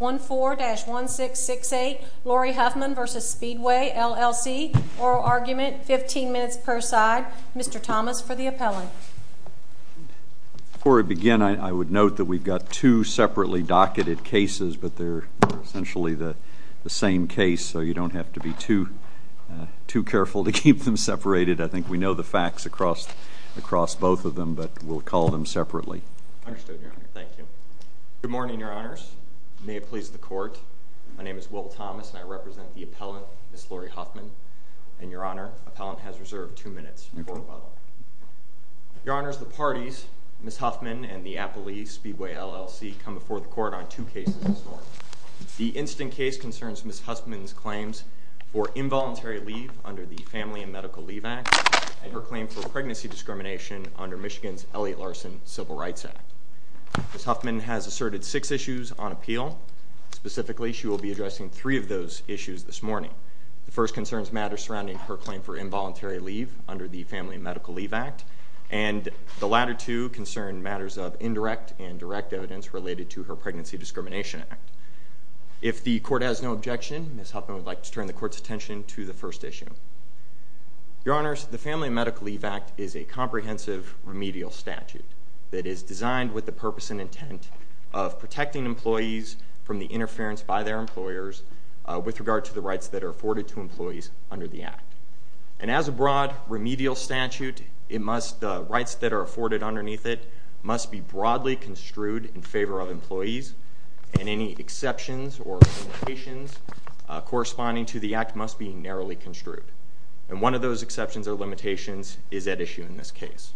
14-1668, Lauri Huffman v. Speedway, LLC. Oral argument, 15 minutes per side. Mr. Thomas for the appellant. Before we begin, I would note that we've got two separately docketed cases, but they're essentially the same case, so you don't have to be too careful to keep them separated. I think we know the facts across both of them, but we'll call them separately. Understood, Your Honor. Thank you. Good morning, Your Honors. May it please the court, my name is Will Thomas, and I represent the appellant, Ms. Lauri Huffman. And Your Honor, appellant has reserved two minutes. Your Honors, the parties, Ms. Huffman and the Applee Speedway LLC, come before the court on two cases this morning. The instant case concerns Ms. Huffman's claims for involuntary leave under the Family and Medical Leave Act, and her claim for pregnancy discrimination under Michigan's Elliott Larson Civil Rights Act. Ms. Huffman has asserted six issues on appeal. Specifically, she will be addressing three of those issues this morning. The first concerns matters surrounding her claim for involuntary leave under the Family and Medical Leave Act, and the latter two concern matters of indirect and direct evidence related to her Pregnancy Discrimination Act. If the court has no objection, Ms. Huffman would like to turn the court's attention to the first issue. Your Honors, the Family and Medical Leave Act is a comprehensive remedial statute that is designed with the purpose and intent of protecting employees from the interference by their employers with regard to the rights that are afforded to employees under the act. And as a broad remedial statute, the rights that are afforded underneath it must be broadly construed in favor of employees, and any exceptions or limitations corresponding to the act must be narrowly construed. And one of those exceptions or limitations is at issue in this case.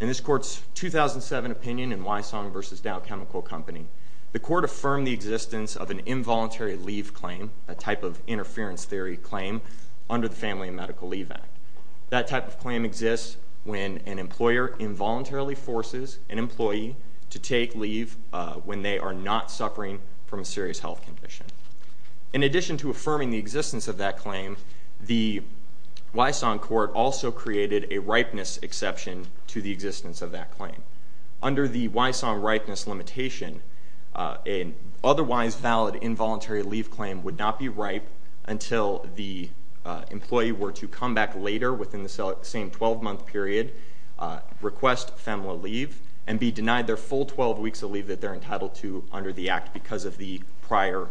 In this court's 2007 opinion in Wysong versus Dow Chemical Company, the court affirmed the existence of an involuntary leave claim, a type of interference theory claim, under the Family and Medical Leave Act. That type of claim exists when an employer involuntarily forces an employee to take leave when they are not suffering from a serious health condition. In addition to affirming the existence of that claim, the Wysong court also created a ripeness exception to the existence of that claim. Under the Wysong ripeness limitation, an otherwise valid involuntary leave claim would not be ripe until the employee were to come back later within the same 12-month period, request FEMLA leave, and be denied their full 12 weeks of leave that they're entitled to under the act because of the prior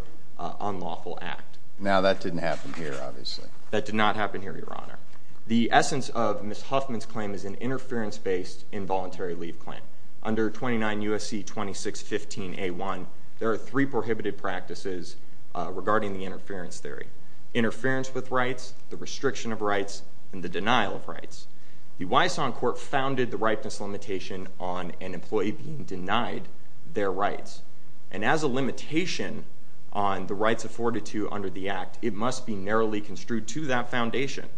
unlawful act. Now, that didn't happen here, obviously. That did not happen here, Your Honor. The essence of Ms. Huffman's claim is an interference-based involuntary leave claim. Under 29 USC 2615A1, there are three prohibited practices regarding the interference theory, interference with rights, the restriction of rights, and the denial of rights. The Wysong court founded the ripeness limitation on an employee being denied their rights. And as a limitation on the rights afforded to under the act, it must be narrowly construed to that foundation.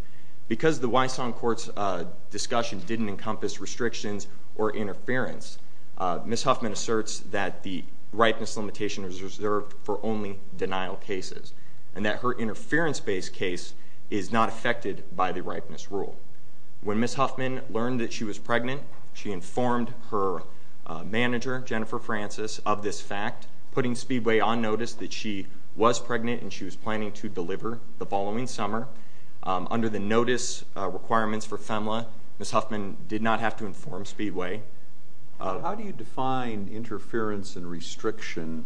Because the Wysong court's discussion didn't encompass restrictions or interference, Ms. Huffman asserts that the ripeness limitation is reserved for only denial cases and that her interference-based case is not affected by the ripeness rule. When Ms. Huffman learned that she was pregnant, she informed her manager, Jennifer Francis, of this fact, putting Speedway on notice that she was pregnant and she was planning to deliver the following summer. Under the notice requirements for FEMLA, Ms. Huffman did not have to inform Speedway. How do you define interference and restriction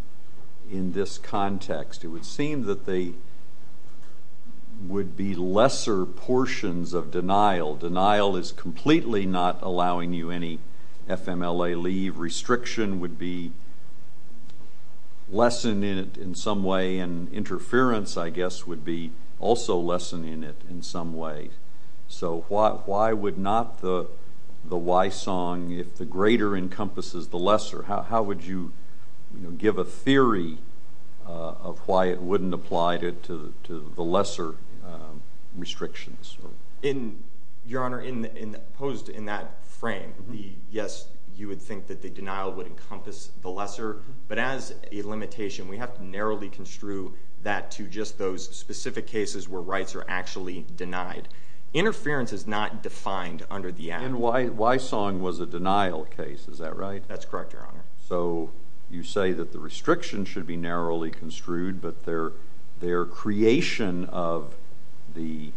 in this context? It would seem that they would be lesser portions of denial. Denial is completely not allowing you any FMLA leave. Restriction would be lessened in it in some way. And interference, I guess, would be also lessened in it in some way. So why would not the Wysong, if the greater encompasses the lesser, how would you give a theory of why it wouldn't apply to the lesser restrictions? Your Honor, posed in that frame, yes, you would think that the denial would encompass the lesser. But as a limitation, we have to narrowly construe that to just those specific cases where rights are actually denied. Interference is not defined under the act. And Wysong was a denial case. Is that right? That's correct, Your Honor. So you say that the restriction should be narrowly construed, but their creation of the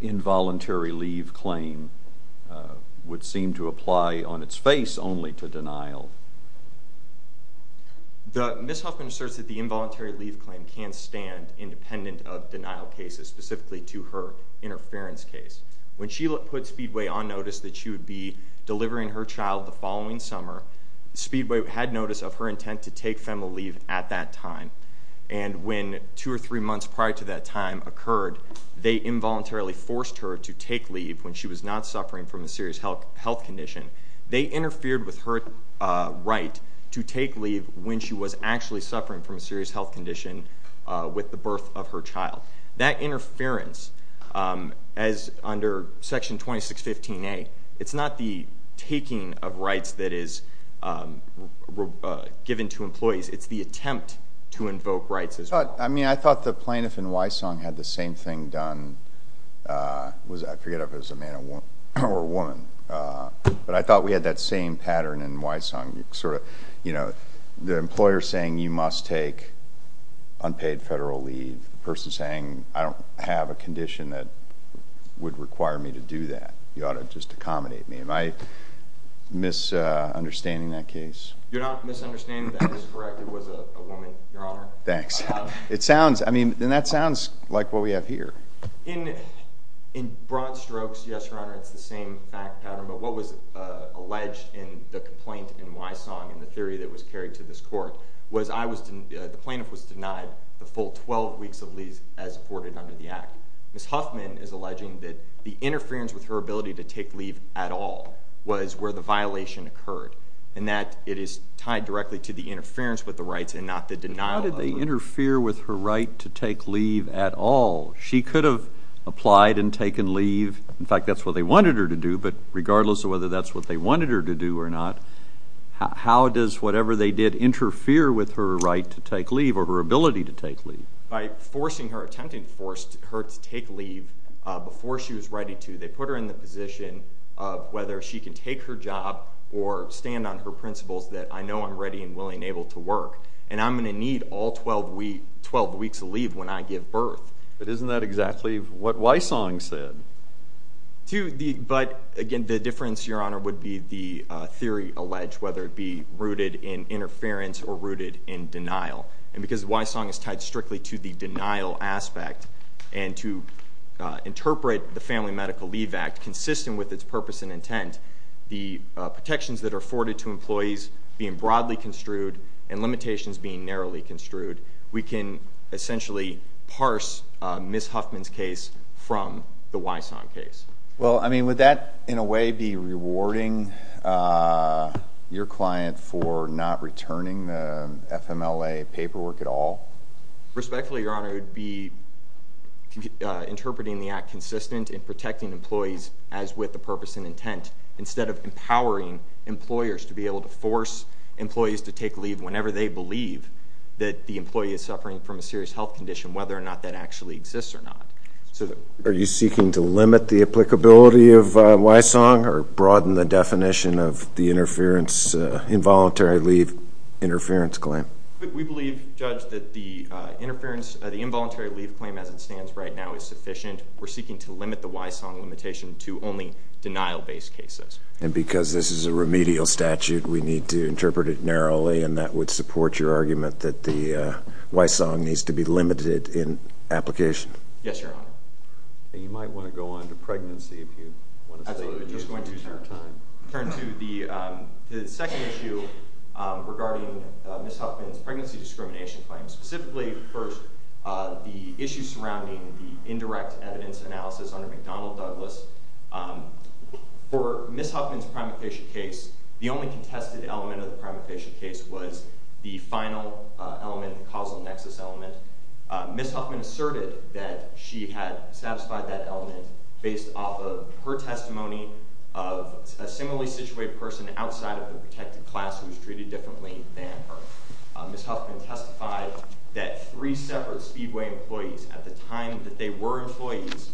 involuntary leave claim would seem to apply on its face only to denial. Ms. Huffman asserts that the involuntary leave claim can stand independent of denial cases, specifically to her interference case. When she put Speedway on notice that she would be delivering her child the following summer, Speedway had notice of her intent to take FMLA leave at that time. And when two or three months prior to that time occurred, they involuntarily forced her to take leave when she was not suffering from a serious health condition. They interfered with her right to take leave when she was actually suffering from a serious health condition with the birth of her child. That interference, as under Section 2615A, it's not the taking of rights that is given to employees. It's the attempt to invoke rights as well. I mean, I thought the plaintiff in Wysong had the same thing done. I forget if it was a man or a woman. But I thought we had that same pattern in Wysong. The employer saying you must take unpaid federal leave, the person saying I don't have a condition that would require me to do that. You ought to just accommodate me. Am I misunderstanding that case? You're not misunderstanding. That is correct. It was a woman, Your Honor. Thanks. It sounds, I mean, and that sounds like what we have here. In broad strokes, yes, Your Honor, it's the same fact pattern. But what was alleged in the complaint in Wysong and the theory that was carried to this court was the plaintiff was denied the full 12 weeks of leave as afforded under the act. Ms. Huffman is alleging that the interference with her ability to take leave at all was where the violation occurred, and that it is tied directly to the interference with the rights and not the denial of them. How did they interfere with her right to take leave at all? She could have applied and taken leave. In fact, that's what they wanted her to do. But regardless of whether that's what they wanted her to do or not, how does whatever they did interfere with her right to take leave or her ability to take leave? By forcing her, attempting to force her to take leave before she was ready to, they put her in the position of whether she can take her job or stand on her principles that I know I'm ready and willing and able to work. And I'm going to need all 12 weeks of leave when I give birth. But isn't that exactly what Wysong said? But again, the difference, Your Honor, would be the theory alleged, whether it be rooted in interference or rooted in denial. And because Wysong is tied strictly to the denial aspect and to interpret the Family Medical Leave Act consistent with its purpose and intent, the protections that are afforded to employees being broadly construed and limitations being narrowly construed, we can essentially parse Ms. Huffman's case from the Wysong case. Well, I mean, would that in a way be rewarding your client for not returning the FMLA paperwork at all? Respectfully, Your Honor, it would be interpreting the act consistent in protecting employees as with the purpose and intent, instead of empowering employers to be able to force employees to take leave whenever they believe that the employee is suffering from a serious health condition, whether or not that actually exists or not. Are you seeking to limit the applicability of Wysong or broaden the definition of the involuntary leave interference claim? We believe, Judge, that the involuntary leave claim as it stands right now is sufficient. We're seeking to limit the Wysong limitation to only denial-based cases. And because this is a remedial statute, we need to interpret it narrowly. And that would support your argument that the Wysong needs to be limited in application. Yes, Your Honor. And you might want to go on to pregnancy, if you want to. Absolutely. I'm just going to turn to the second issue regarding Ms. Huffman's pregnancy discrimination claim. Specifically, first, the issue surrounding the indirect evidence analysis under McDonnell Douglas. For Ms. Huffman's primary patient case, the only contested element of the primary patient case was the final element, the causal nexus element. Ms. Huffman asserted that she had satisfied that element based off of her testimony of a similarly situated person outside of the protected class who was treated differently than her. Ms. Huffman testified that three separate Speedway employees at the time that they were employees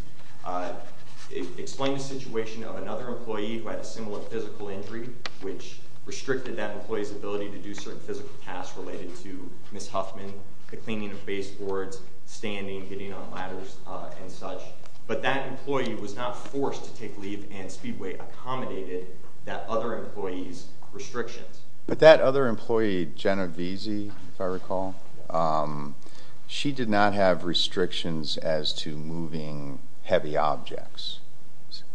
explained the situation of another employee who had a similar physical injury, which restricted that employee's ability to do certain physical tasks related to Ms. Huffman, the cleaning of baseboards, standing, getting on ladders, and such. But that employee was not forced to take leave, and Speedway accommodated that other employee's restrictions. But that other employee, Jenna Veazey, if I recall, she did not have restrictions as to moving heavy objects.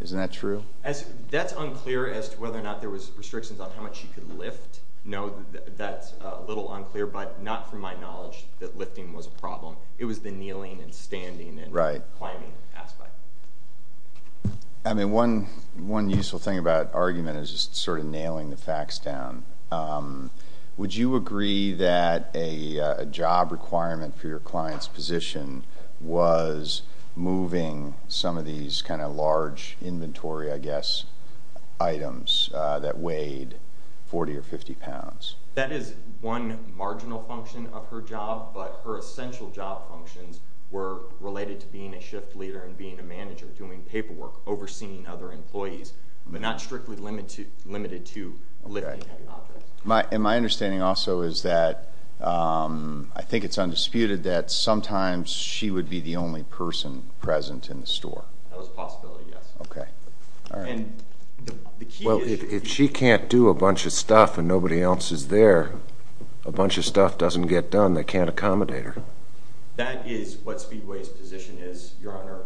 Isn't that true? That's unclear as to whether or not there was restrictions on how much you could lift. No, that's a little unclear, but not from my knowledge that lifting was a problem. It was the kneeling and standing and climbing aspect. I mean, one useful thing about argument is just sort of nailing the facts down. Would you agree that a job requirement for your client's position was moving some of these kind of large inventory, I guess, items that weighed 40 or 50 pounds? That is one marginal function of her job, but her essential job functions were related to being a shift leader and being a manager, doing paperwork, overseeing other employees, but not strictly limited to lifting heavy objects. And my understanding also is that I think it's undisputed that sometimes she would be the only person present in the store. That was a possibility, yes. OK. All right. Well, if she can't do a bunch of stuff and nobody else is there, a bunch of stuff doesn't get done, they can't accommodate her. That is what Speedway's position is, Your Honor.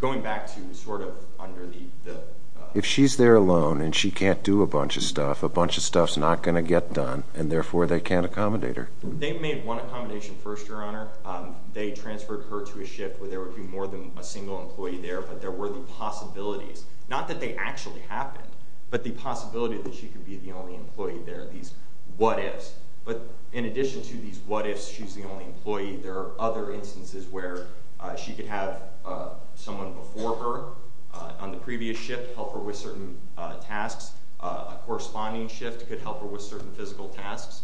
Going back to sort of under the- If she's there alone and she can't do a bunch of stuff, a bunch of stuff's not going to get done, and therefore they can't accommodate her. They made one accommodation first, Your Honor. They transferred her to a shift where there would be more than a single employee there, but there were the possibilities. Not that they actually happened, but the possibility that she could be the only employee there, these what ifs. But in addition to these what ifs, she's the only employee, there are other instances where she could have someone before her on the previous shift help her with certain tasks. A corresponding shift could help her with certain physical tasks.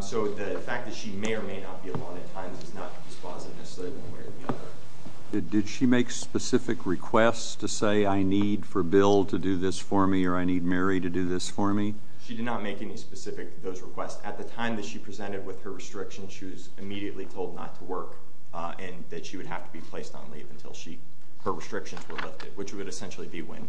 So the fact that she may or may not be alone at times is not dispositive, necessarily, one way or the other. Did she make specific requests to say, I need for Bill to do this for me, or I need Mary to do this for me? She did not make any specific of those requests. At the time that she presented with her restrictions, she was immediately told not to work, and that she would have to be placed on leave until her restrictions were lifted, which would essentially be when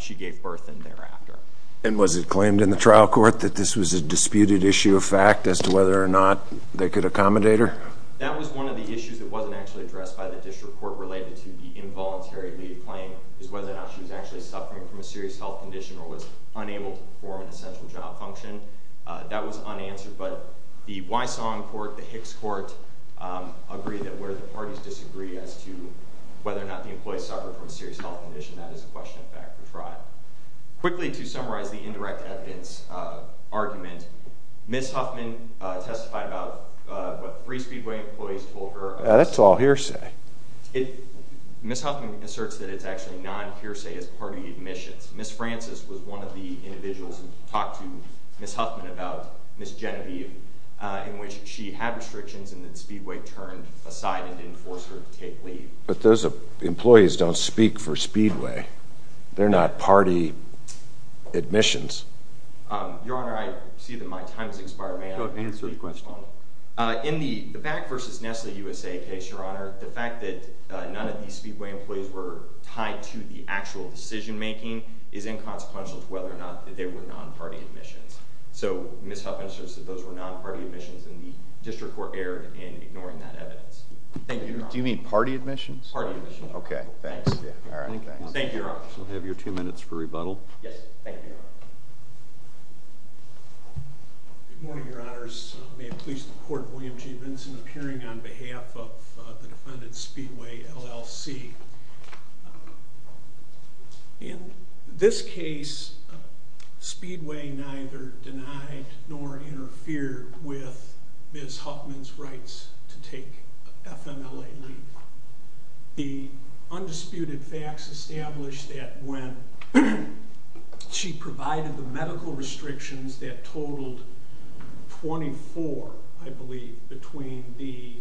she gave birth and thereafter. And was it claimed in the trial court that this was a disputed issue of fact as to whether or not they could accommodate her? That was one of the issues that wasn't actually addressed by the district court related to the involuntary leave claim, is whether or not she was actually suffering from a serious health condition or was unable to perform an essential job function. That was unanswered, but the Wysong court, the Hicks court, agreed that where the parties disagree as to whether or not the employee suffered from a serious health condition, that is a question of fact for trial. Quickly, to summarize the indirect evidence argument, Ms. Huffman testified about what three Speedway employees told her. That's all hearsay. Ms. Huffman asserts that it's actually non-hearsay as part of the admissions. Ms. Francis was one of the individuals who talked to Ms. Huffman about Ms. Genevieve, in which she had restrictions and that Speedway turned aside and didn't force her to take leave. But those employees don't speak for Speedway. They're not party admissions. Your Honor, I see that my time has expired. May I answer a question? In the Back versus Nestle USA case, Your Honor, the fact that none of these Speedway employees were tied to the actual decision making is inconsequential to whether or not that they were non-party admissions. So Ms. Huffman asserts that those were non-party admissions and the district court erred in ignoring that evidence. Thank you, Your Honor. Do you mean party admissions? Party admissions. OK, thanks. Thank you, Your Honor. We'll have your two minutes for rebuttal. Yes, thank you, Your Honor. Good morning, Your Honors. May it please the court, William G. Vinson appearing on behalf of the defendant Speedway, LLC. In this case, Speedway neither denied nor interfered with Ms. Huffman's rights to take FMLA leave. The undisputed facts establish that when she provided the medical restrictions that totaled 24, I believe, between the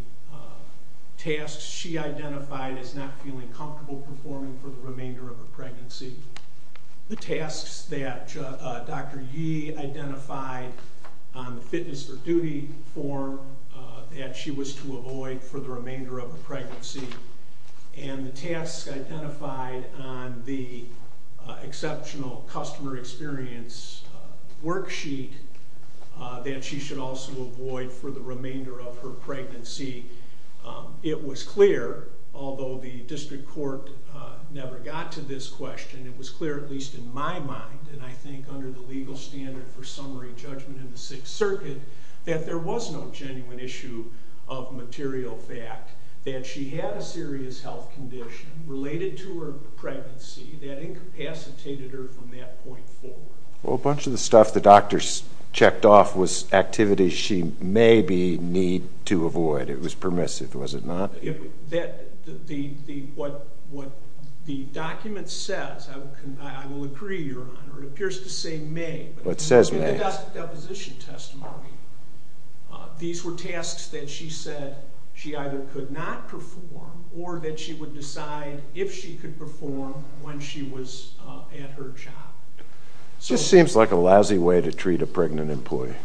tasks she identified as not feeling comfortable performing for the remainder of the pregnancy, the tasks that Dr. Yee identified on the fitness or duty form that she was to avoid for the remainder of the pregnancy, and the tasks identified on the exceptional customer experience worksheet that she should also avoid for the remainder of her pregnancy, it was clear, although the district court never got to this question, it was clear, at least in my mind, and I think under the legal standard for summary judgment in the Sixth Circuit, that there was no genuine issue of material fact that she had a serious health condition related to her pregnancy that incapacitated her from that point forward. Well, a bunch of the stuff the doctors checked off was activities she maybe need to avoid. It was permissive, was it not? What the document says, I will agree, Your Honor, it appears to say may. But it says may. In the deposition testimony, these were tasks that she said she either could not perform or that she would decide if she could perform when she was at her job. This seems like a lousy way to treat a pregnant employee.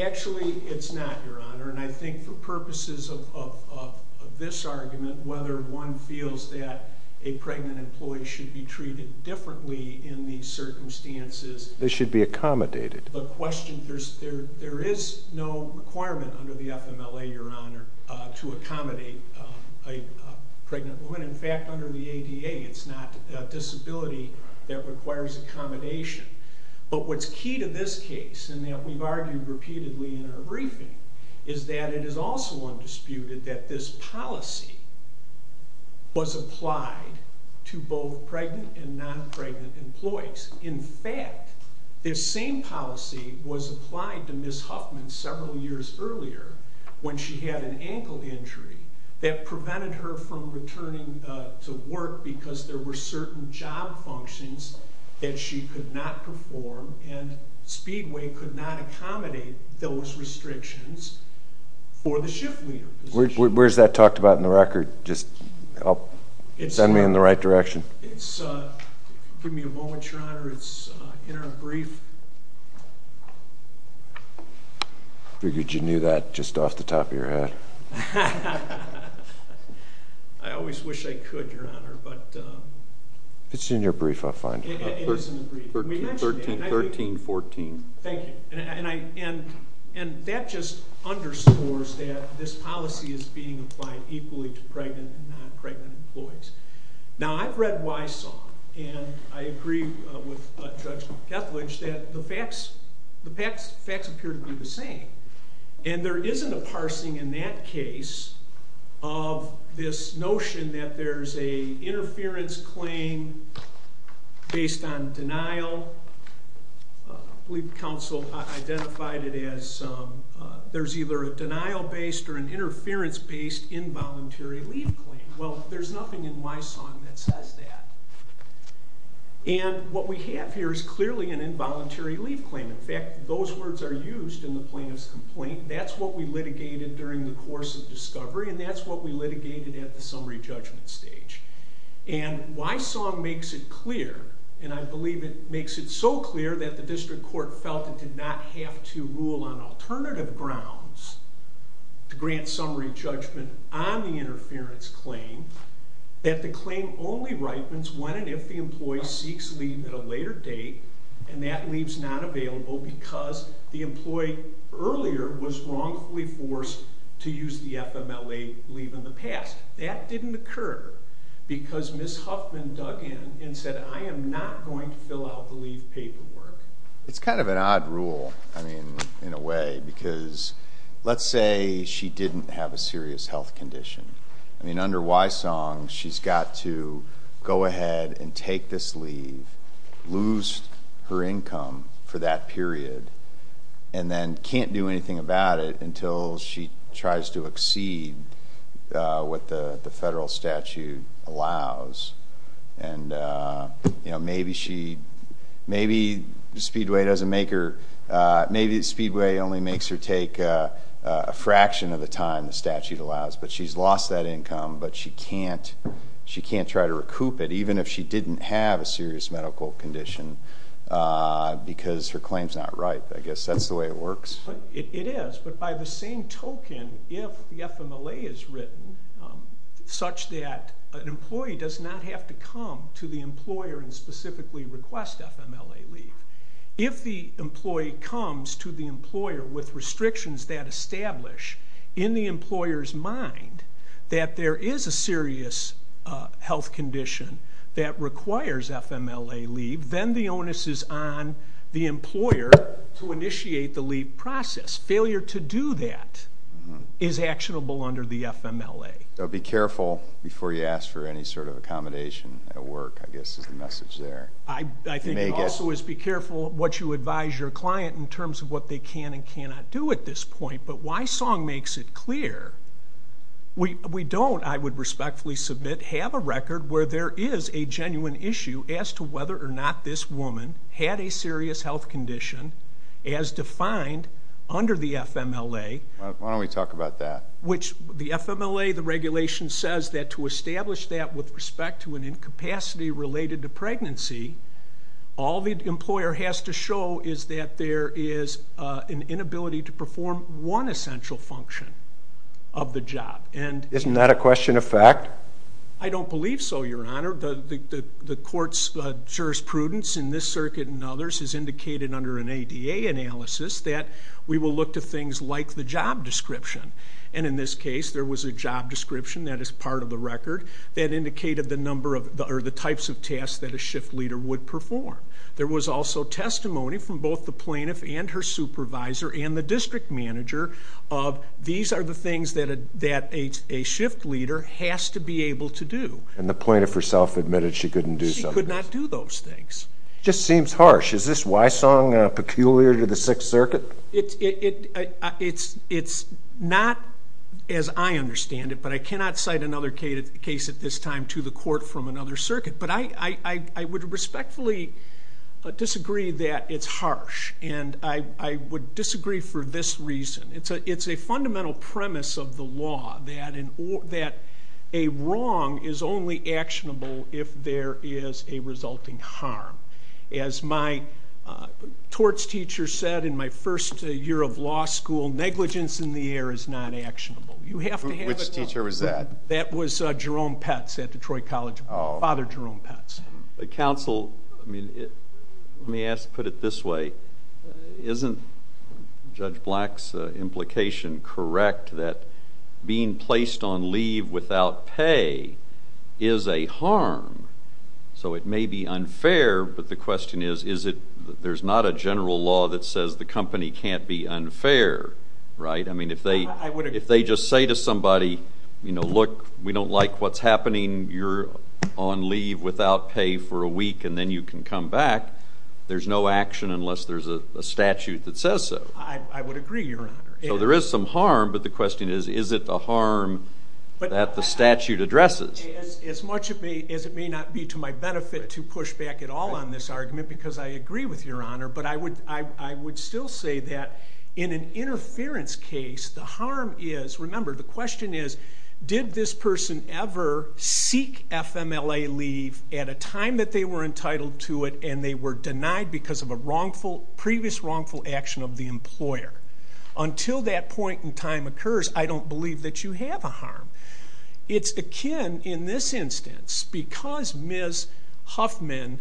Actually, it's not, Your Honor, and I think for purposes of this argument, whether one feels that a pregnant employee should be treated differently in these circumstances. They should be accommodated. There is no requirement under the FMLA, Your Honor, to accommodate a pregnant woman. In fact, under the ADA, it's not a disability that requires accommodation. But what's key to this case, and that we've argued repeatedly in our briefing, is that it is also undisputed that this policy was applied to both pregnant and non-pregnant employees. In fact, this same policy was applied to Ms. Huffman several years earlier when she had an ankle injury. That prevented her from returning to work because there were certain job functions that she could not perform, and Speedway could not accommodate those restrictions for the shift leader position. Where's that talked about in the record? Just send me in the right direction. It's, give me a moment, Your Honor. It's in our brief. Figured you knew that just off the top of your head. I always wish I could, Your Honor, but. It's in your brief, I'll find it. It is in the brief. We mentioned that. 1314. Thank you. And that just underscores that this policy is being applied equally to pregnant and non-pregnant employees. Now, I've read Wisong, and I agree with Judge Ketledge that the facts appear to be the same. And there isn't a parsing in that case of this notion that there's a interference claim based on denial. We've counseled, identified it as there's either a denial based or an interference based involuntary leave claim. Well, there's nothing in Wisong that says that. And what we have here is clearly an involuntary leave claim. In fact, those words are used in the plaintiff's complaint. That's what we litigated during the course of discovery, and that's what we litigated at the summary judgment stage. And Wisong makes it clear, and I believe it makes it so clear that the district court felt it did not have to rule on alternative grounds to grant summary judgment on the interference claim, that the claim only ripens when and if the employee seeks leave at a later date, and that leave's not available because the employee earlier was wrongfully forced to use the FMLA leave in the past. That didn't occur because Ms. Huffman dug in and said, I am not going to fill out the leave paperwork. It's kind of an odd rule, I mean, in a way, because let's say she didn't have a serious health condition. I mean, under Wisong, she's got to go ahead and take this leave, lose her income for that period, and then can't do anything about it until she tries to exceed what the federal statute allows. And maybe Speedway only makes her take a fraction of the time the statute allows, but she's lost that income. But she can't try to recoup it, even if she didn't have a serious medical condition, because her claim's not ripe. I guess that's the way it works. It is, but by the same token, if the FMLA is written such that an employee does not have to come to the employer and specifically request FMLA leave, if the employee comes to the employer with restrictions that establish, in the employer's mind, that there is a serious health condition that requires FMLA leave, then the onus is on the employer to initiate the leave process. Failure to do that is actionable under the FMLA. So be careful before you ask for any sort of accommodation at work, I guess, is the message there. I think it also is be careful what you advise your client in terms of what they can and cannot do at this point. But Wisong makes it clear, we don't, I would respectfully submit, have a record where there is a genuine issue as to whether or not this woman had a serious health condition, as defined under the FMLA. Why don't we talk about that? The FMLA, the regulation, says that to establish that with respect to an incapacity related to pregnancy, all the employer has to show is that there is an inability to perform one essential function of the job. Isn't that a question of fact? I don't believe so, Your Honor. The court's jurisprudence in this circuit and others has indicated under an ADA analysis that we will look to things like the job description. And in this case, there was a job description that is part of the record that indicated the number of, or the types of tasks that a shift leader would perform. There was also testimony from both the plaintiff and her supervisor and the district manager of these are the things that a shift leader has to be able to do. And the plaintiff herself admitted she couldn't do some of those. She could not do those things. Just seems harsh. Is this Wysong peculiar to the Sixth Circuit? It's not as I understand it. But I cannot cite another case at this time to the court from another circuit. But I would respectfully disagree that it's harsh. And I would disagree for this reason. It's a fundamental premise of the law that a wrong is only actionable if there is a resulting harm. As my torts teacher said in my first year of law school, negligence in the air is not actionable. You have to have a term. Which teacher was that? That was Jerome Petz at Detroit College. Father Jerome Petz. But counsel, let me put it this way. Isn't Judge Black's implication correct that being placed on leave without pay is a harm? So it may be unfair. But the question is, there's not a general law that says the company can't be unfair, right? I mean, if they just say to somebody, look, we don't like what's happening. You're on leave without pay for a week. And then you can come back. There's no action unless there's a statute that says so. I would agree, Your Honor. So there is some harm. But the question is, is it a harm that the statute addresses? As much as it may not be to my benefit to push back at all on this argument, because I agree with Your Honor. But I would still say that in an interference case, the harm is, remember, the question is, did this person ever seek FMLA leave at a time that they were entitled to it and they were denied because of a previous wrongful action of the employer? Until that point in time occurs, I don't believe that you have a harm. It's akin, in this instance, because Ms. Huffman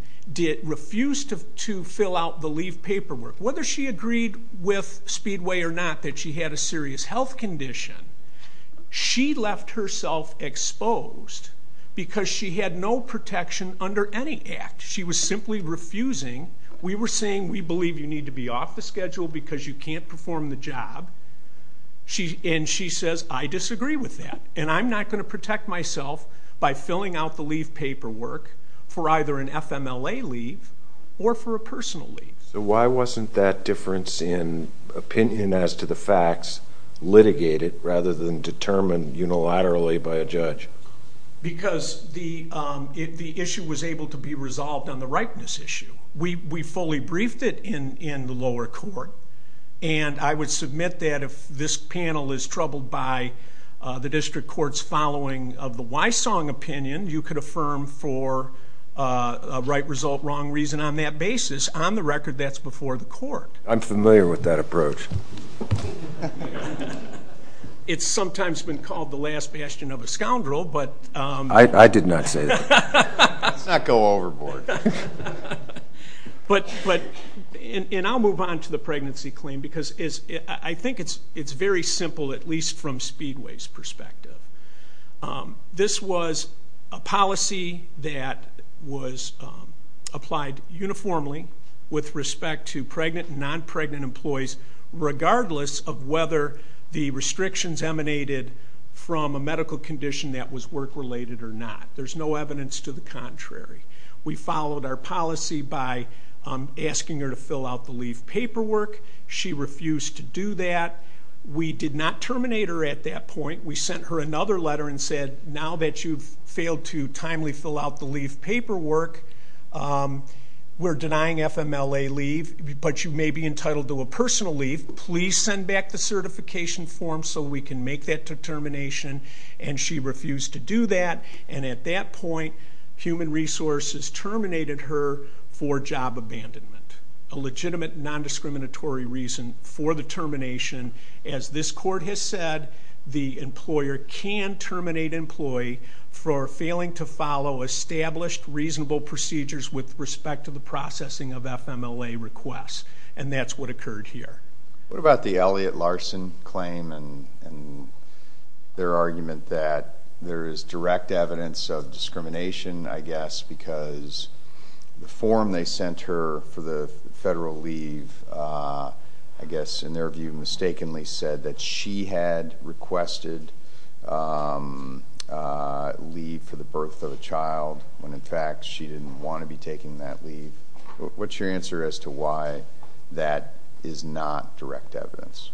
refused to fill out the leave paperwork. Whether she agreed with Speedway or not that she had a serious health condition, she left herself exposed because she had no protection under any act. She was simply refusing. We were saying, we believe you need to be off the schedule because you can't perform the job. And she says, I disagree with that. And I'm not going to protect myself by filling out the leave paperwork for either an FMLA leave or for a personal leave. So why wasn't that difference in opinion as to the facts litigated rather than determined unilaterally by a judge? Because the issue was able to be resolved on the rightness issue. We fully briefed it in the lower court. And I would submit that if this panel is troubled by the district court's following of the Wysong opinion, you could affirm for a right result, wrong reason on that basis. On the record, that's before the court. I'm familiar with that approach. It's sometimes been called the last bastion of a scoundrel, but I did not say that. Let's not go overboard. But I'll move on to the pregnancy claim because I think it's very simple, at least from Speedway's perspective. This was a policy that was applied uniformly with respect to pregnant and non-pregnant employees, regardless of whether the restrictions emanated from a medical condition that was work-related or not. There's no evidence to the contrary. We followed our policy by asking her to fill out the leave paperwork. She refused to do that. We did not terminate her at that point. We sent her another letter and said, now that you've failed to timely fill out the leave paperwork, we're denying FMLA leave. But you may be entitled to a personal leave. Please send back the certification form so we can make that determination. And she refused to do that. And at that point, Human Resources terminated her for job abandonment, a legitimate non-discriminatory reason for the termination. As this court has said, the employer can terminate an employee for failing to follow established reasonable procedures with respect to the processing of FMLA requests. And that's what occurred here. What about the Elliott Larson claim and their argument that there is direct evidence of discrimination, I guess, because the form they sent her for the federal leave, I guess, in their view, mistakenly said that she had requested leave for the birth of a child when, in fact, she didn't want to be taking that leave? What's your answer as to why that is not direct evidence?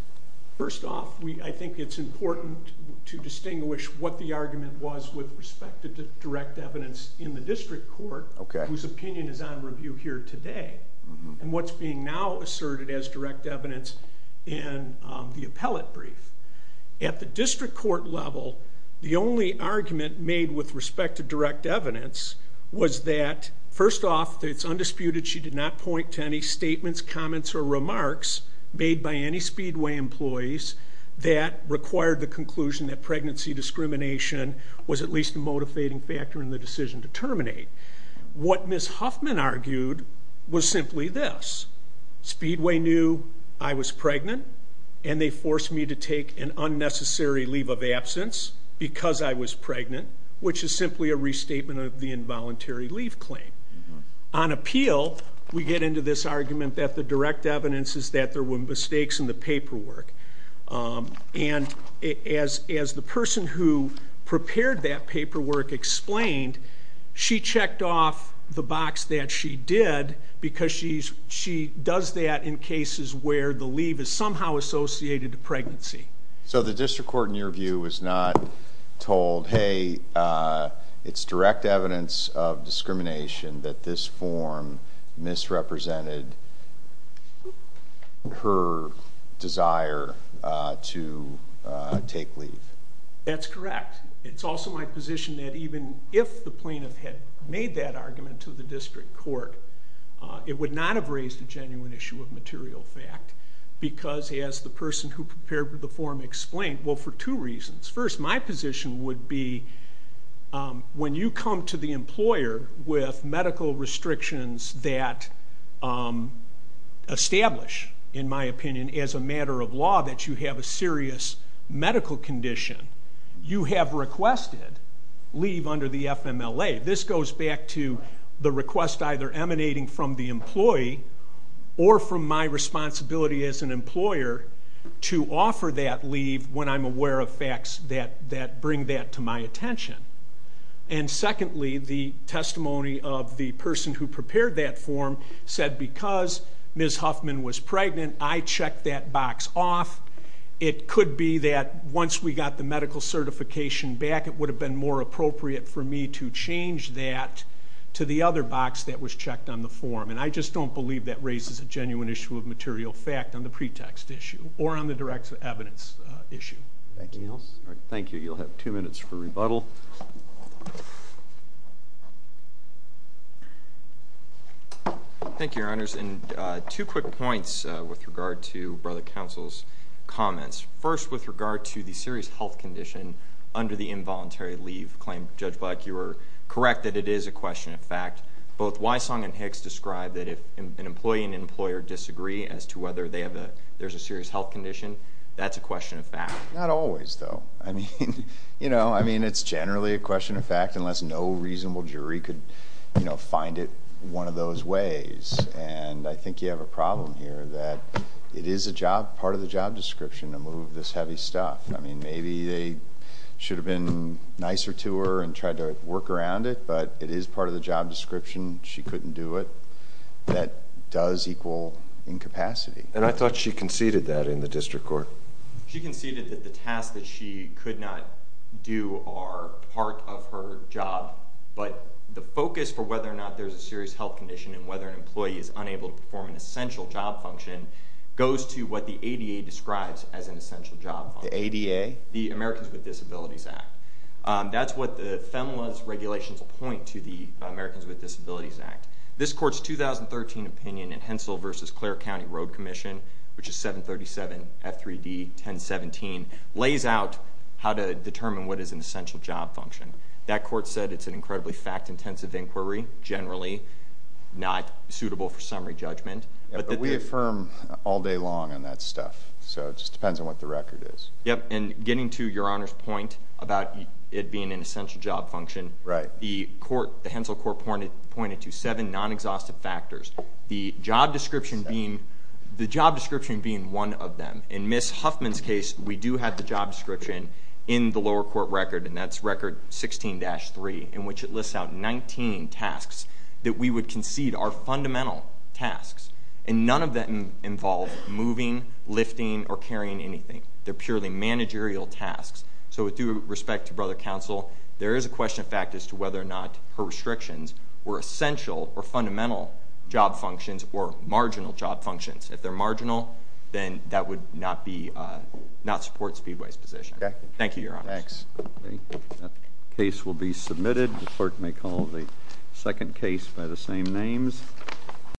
First off, I think it's important to distinguish what the argument was with respect to direct evidence in the district court, whose opinion is on review here today, and what's being now asserted as direct evidence in the appellate brief. At the district court level, the only argument made with respect to direct evidence was that, first off, it's undisputed she did not point to any statements, comments, or remarks made by any Speedway employees that required the conclusion that pregnancy discrimination was at least a motivating factor in the decision to terminate. What Ms. Huffman argued was simply this. Speedway knew I was pregnant, and they forced me to take an unnecessary leave of absence because I was pregnant, which is simply a restatement of the involuntary leave claim. On appeal, we get into this argument that the direct evidence is that there were mistakes in the paperwork. And as the person who prepared that paperwork explained, she checked off the box that she did because she does that in cases where the leave is somehow associated to pregnancy. So the district court, in your view, was not told, hey, it's direct evidence of discrimination that this form misrepresented her desire to take leave. That's correct. It's also my position that even if the plaintiff had made that argument to the district court, it would not have raised a genuine issue of material fact because, as the person who prepared the form explained, well, for two reasons. First, my position would be, when you come to the employer with medical restrictions that establish, in my opinion, as a matter of law that you have a serious medical condition, you have requested leave under the FMLA. This goes back to the request either emanating from the employee or from my responsibility as an employer to offer that leave when I'm aware of facts that bring that to my attention. And secondly, the testimony of the person who prepared that form said, because Ms. Huffman was pregnant, I checked that box off. It could be that once we got the medical certification back, it would have been more appropriate for me to change that to the other box that was checked on the form. And I just don't believe that raises a genuine issue of material fact on the pretext issue or on the direct evidence issue. Thank you. Thank you. You'll have two minutes for rebuttal. Thank you, Your Honors. And two quick points with regard to Brother Counsel's comments. First, with regard to the serious health condition under the involuntary leave claim, Judge Black, you were correct that it is a question of fact. Both Wysong and Hicks described that if an employee and employer disagree as to whether there's a serious health condition, that's a question of fact. Not always, though. I mean, it's generally a question of fact unless no reasonable jury could find it one of those ways. And I think you have a problem here that it is part of the job description to move this heavy stuff. I mean, maybe they should have been nicer to her and tried to work around it, but it is part of the job description. She couldn't do it. That does equal incapacity. And I thought she conceded that in the district court. She conceded that the tasks that she could not do are part of her job. But the focus for whether or not there's a serious health condition and whether an employee is unable to perform an essential job function goes to what the ADA describes as an essential job function. The ADA? The Americans with Disabilities Act. That's what the FEMLA's regulations point to the Americans with Disabilities Act. This court's 2013 opinion in Hensel versus Clare County Road Commission, which is 737 F3D 1017, lays out how to determine what is an essential job function. That court said it's an incredibly fact-intensive inquiry, generally not suitable for summary judgment. But we affirm all day long on that stuff. So it just depends on what the record is. Yep, and getting to Your Honor's point about it being an essential job function, the Hensel court pointed to seven non-exhaustive factors. The job description being one of them. In Ms. Huffman's case, we do have the job description in the lower court record, and that's record 16-3, in which it lists out 19 tasks that we would concede are fundamental tasks. And none of them involve moving, lifting, or carrying anything. They're purely managerial tasks. So with due respect to Brother Counsel, there is a question of fact as to whether or not her restrictions were essential or fundamental job functions or marginal job functions. If they're marginal, then that would not support Speedway's position. Thank you, Your Honor. Thanks. That case will be submitted. The clerk may call the second case by the same names.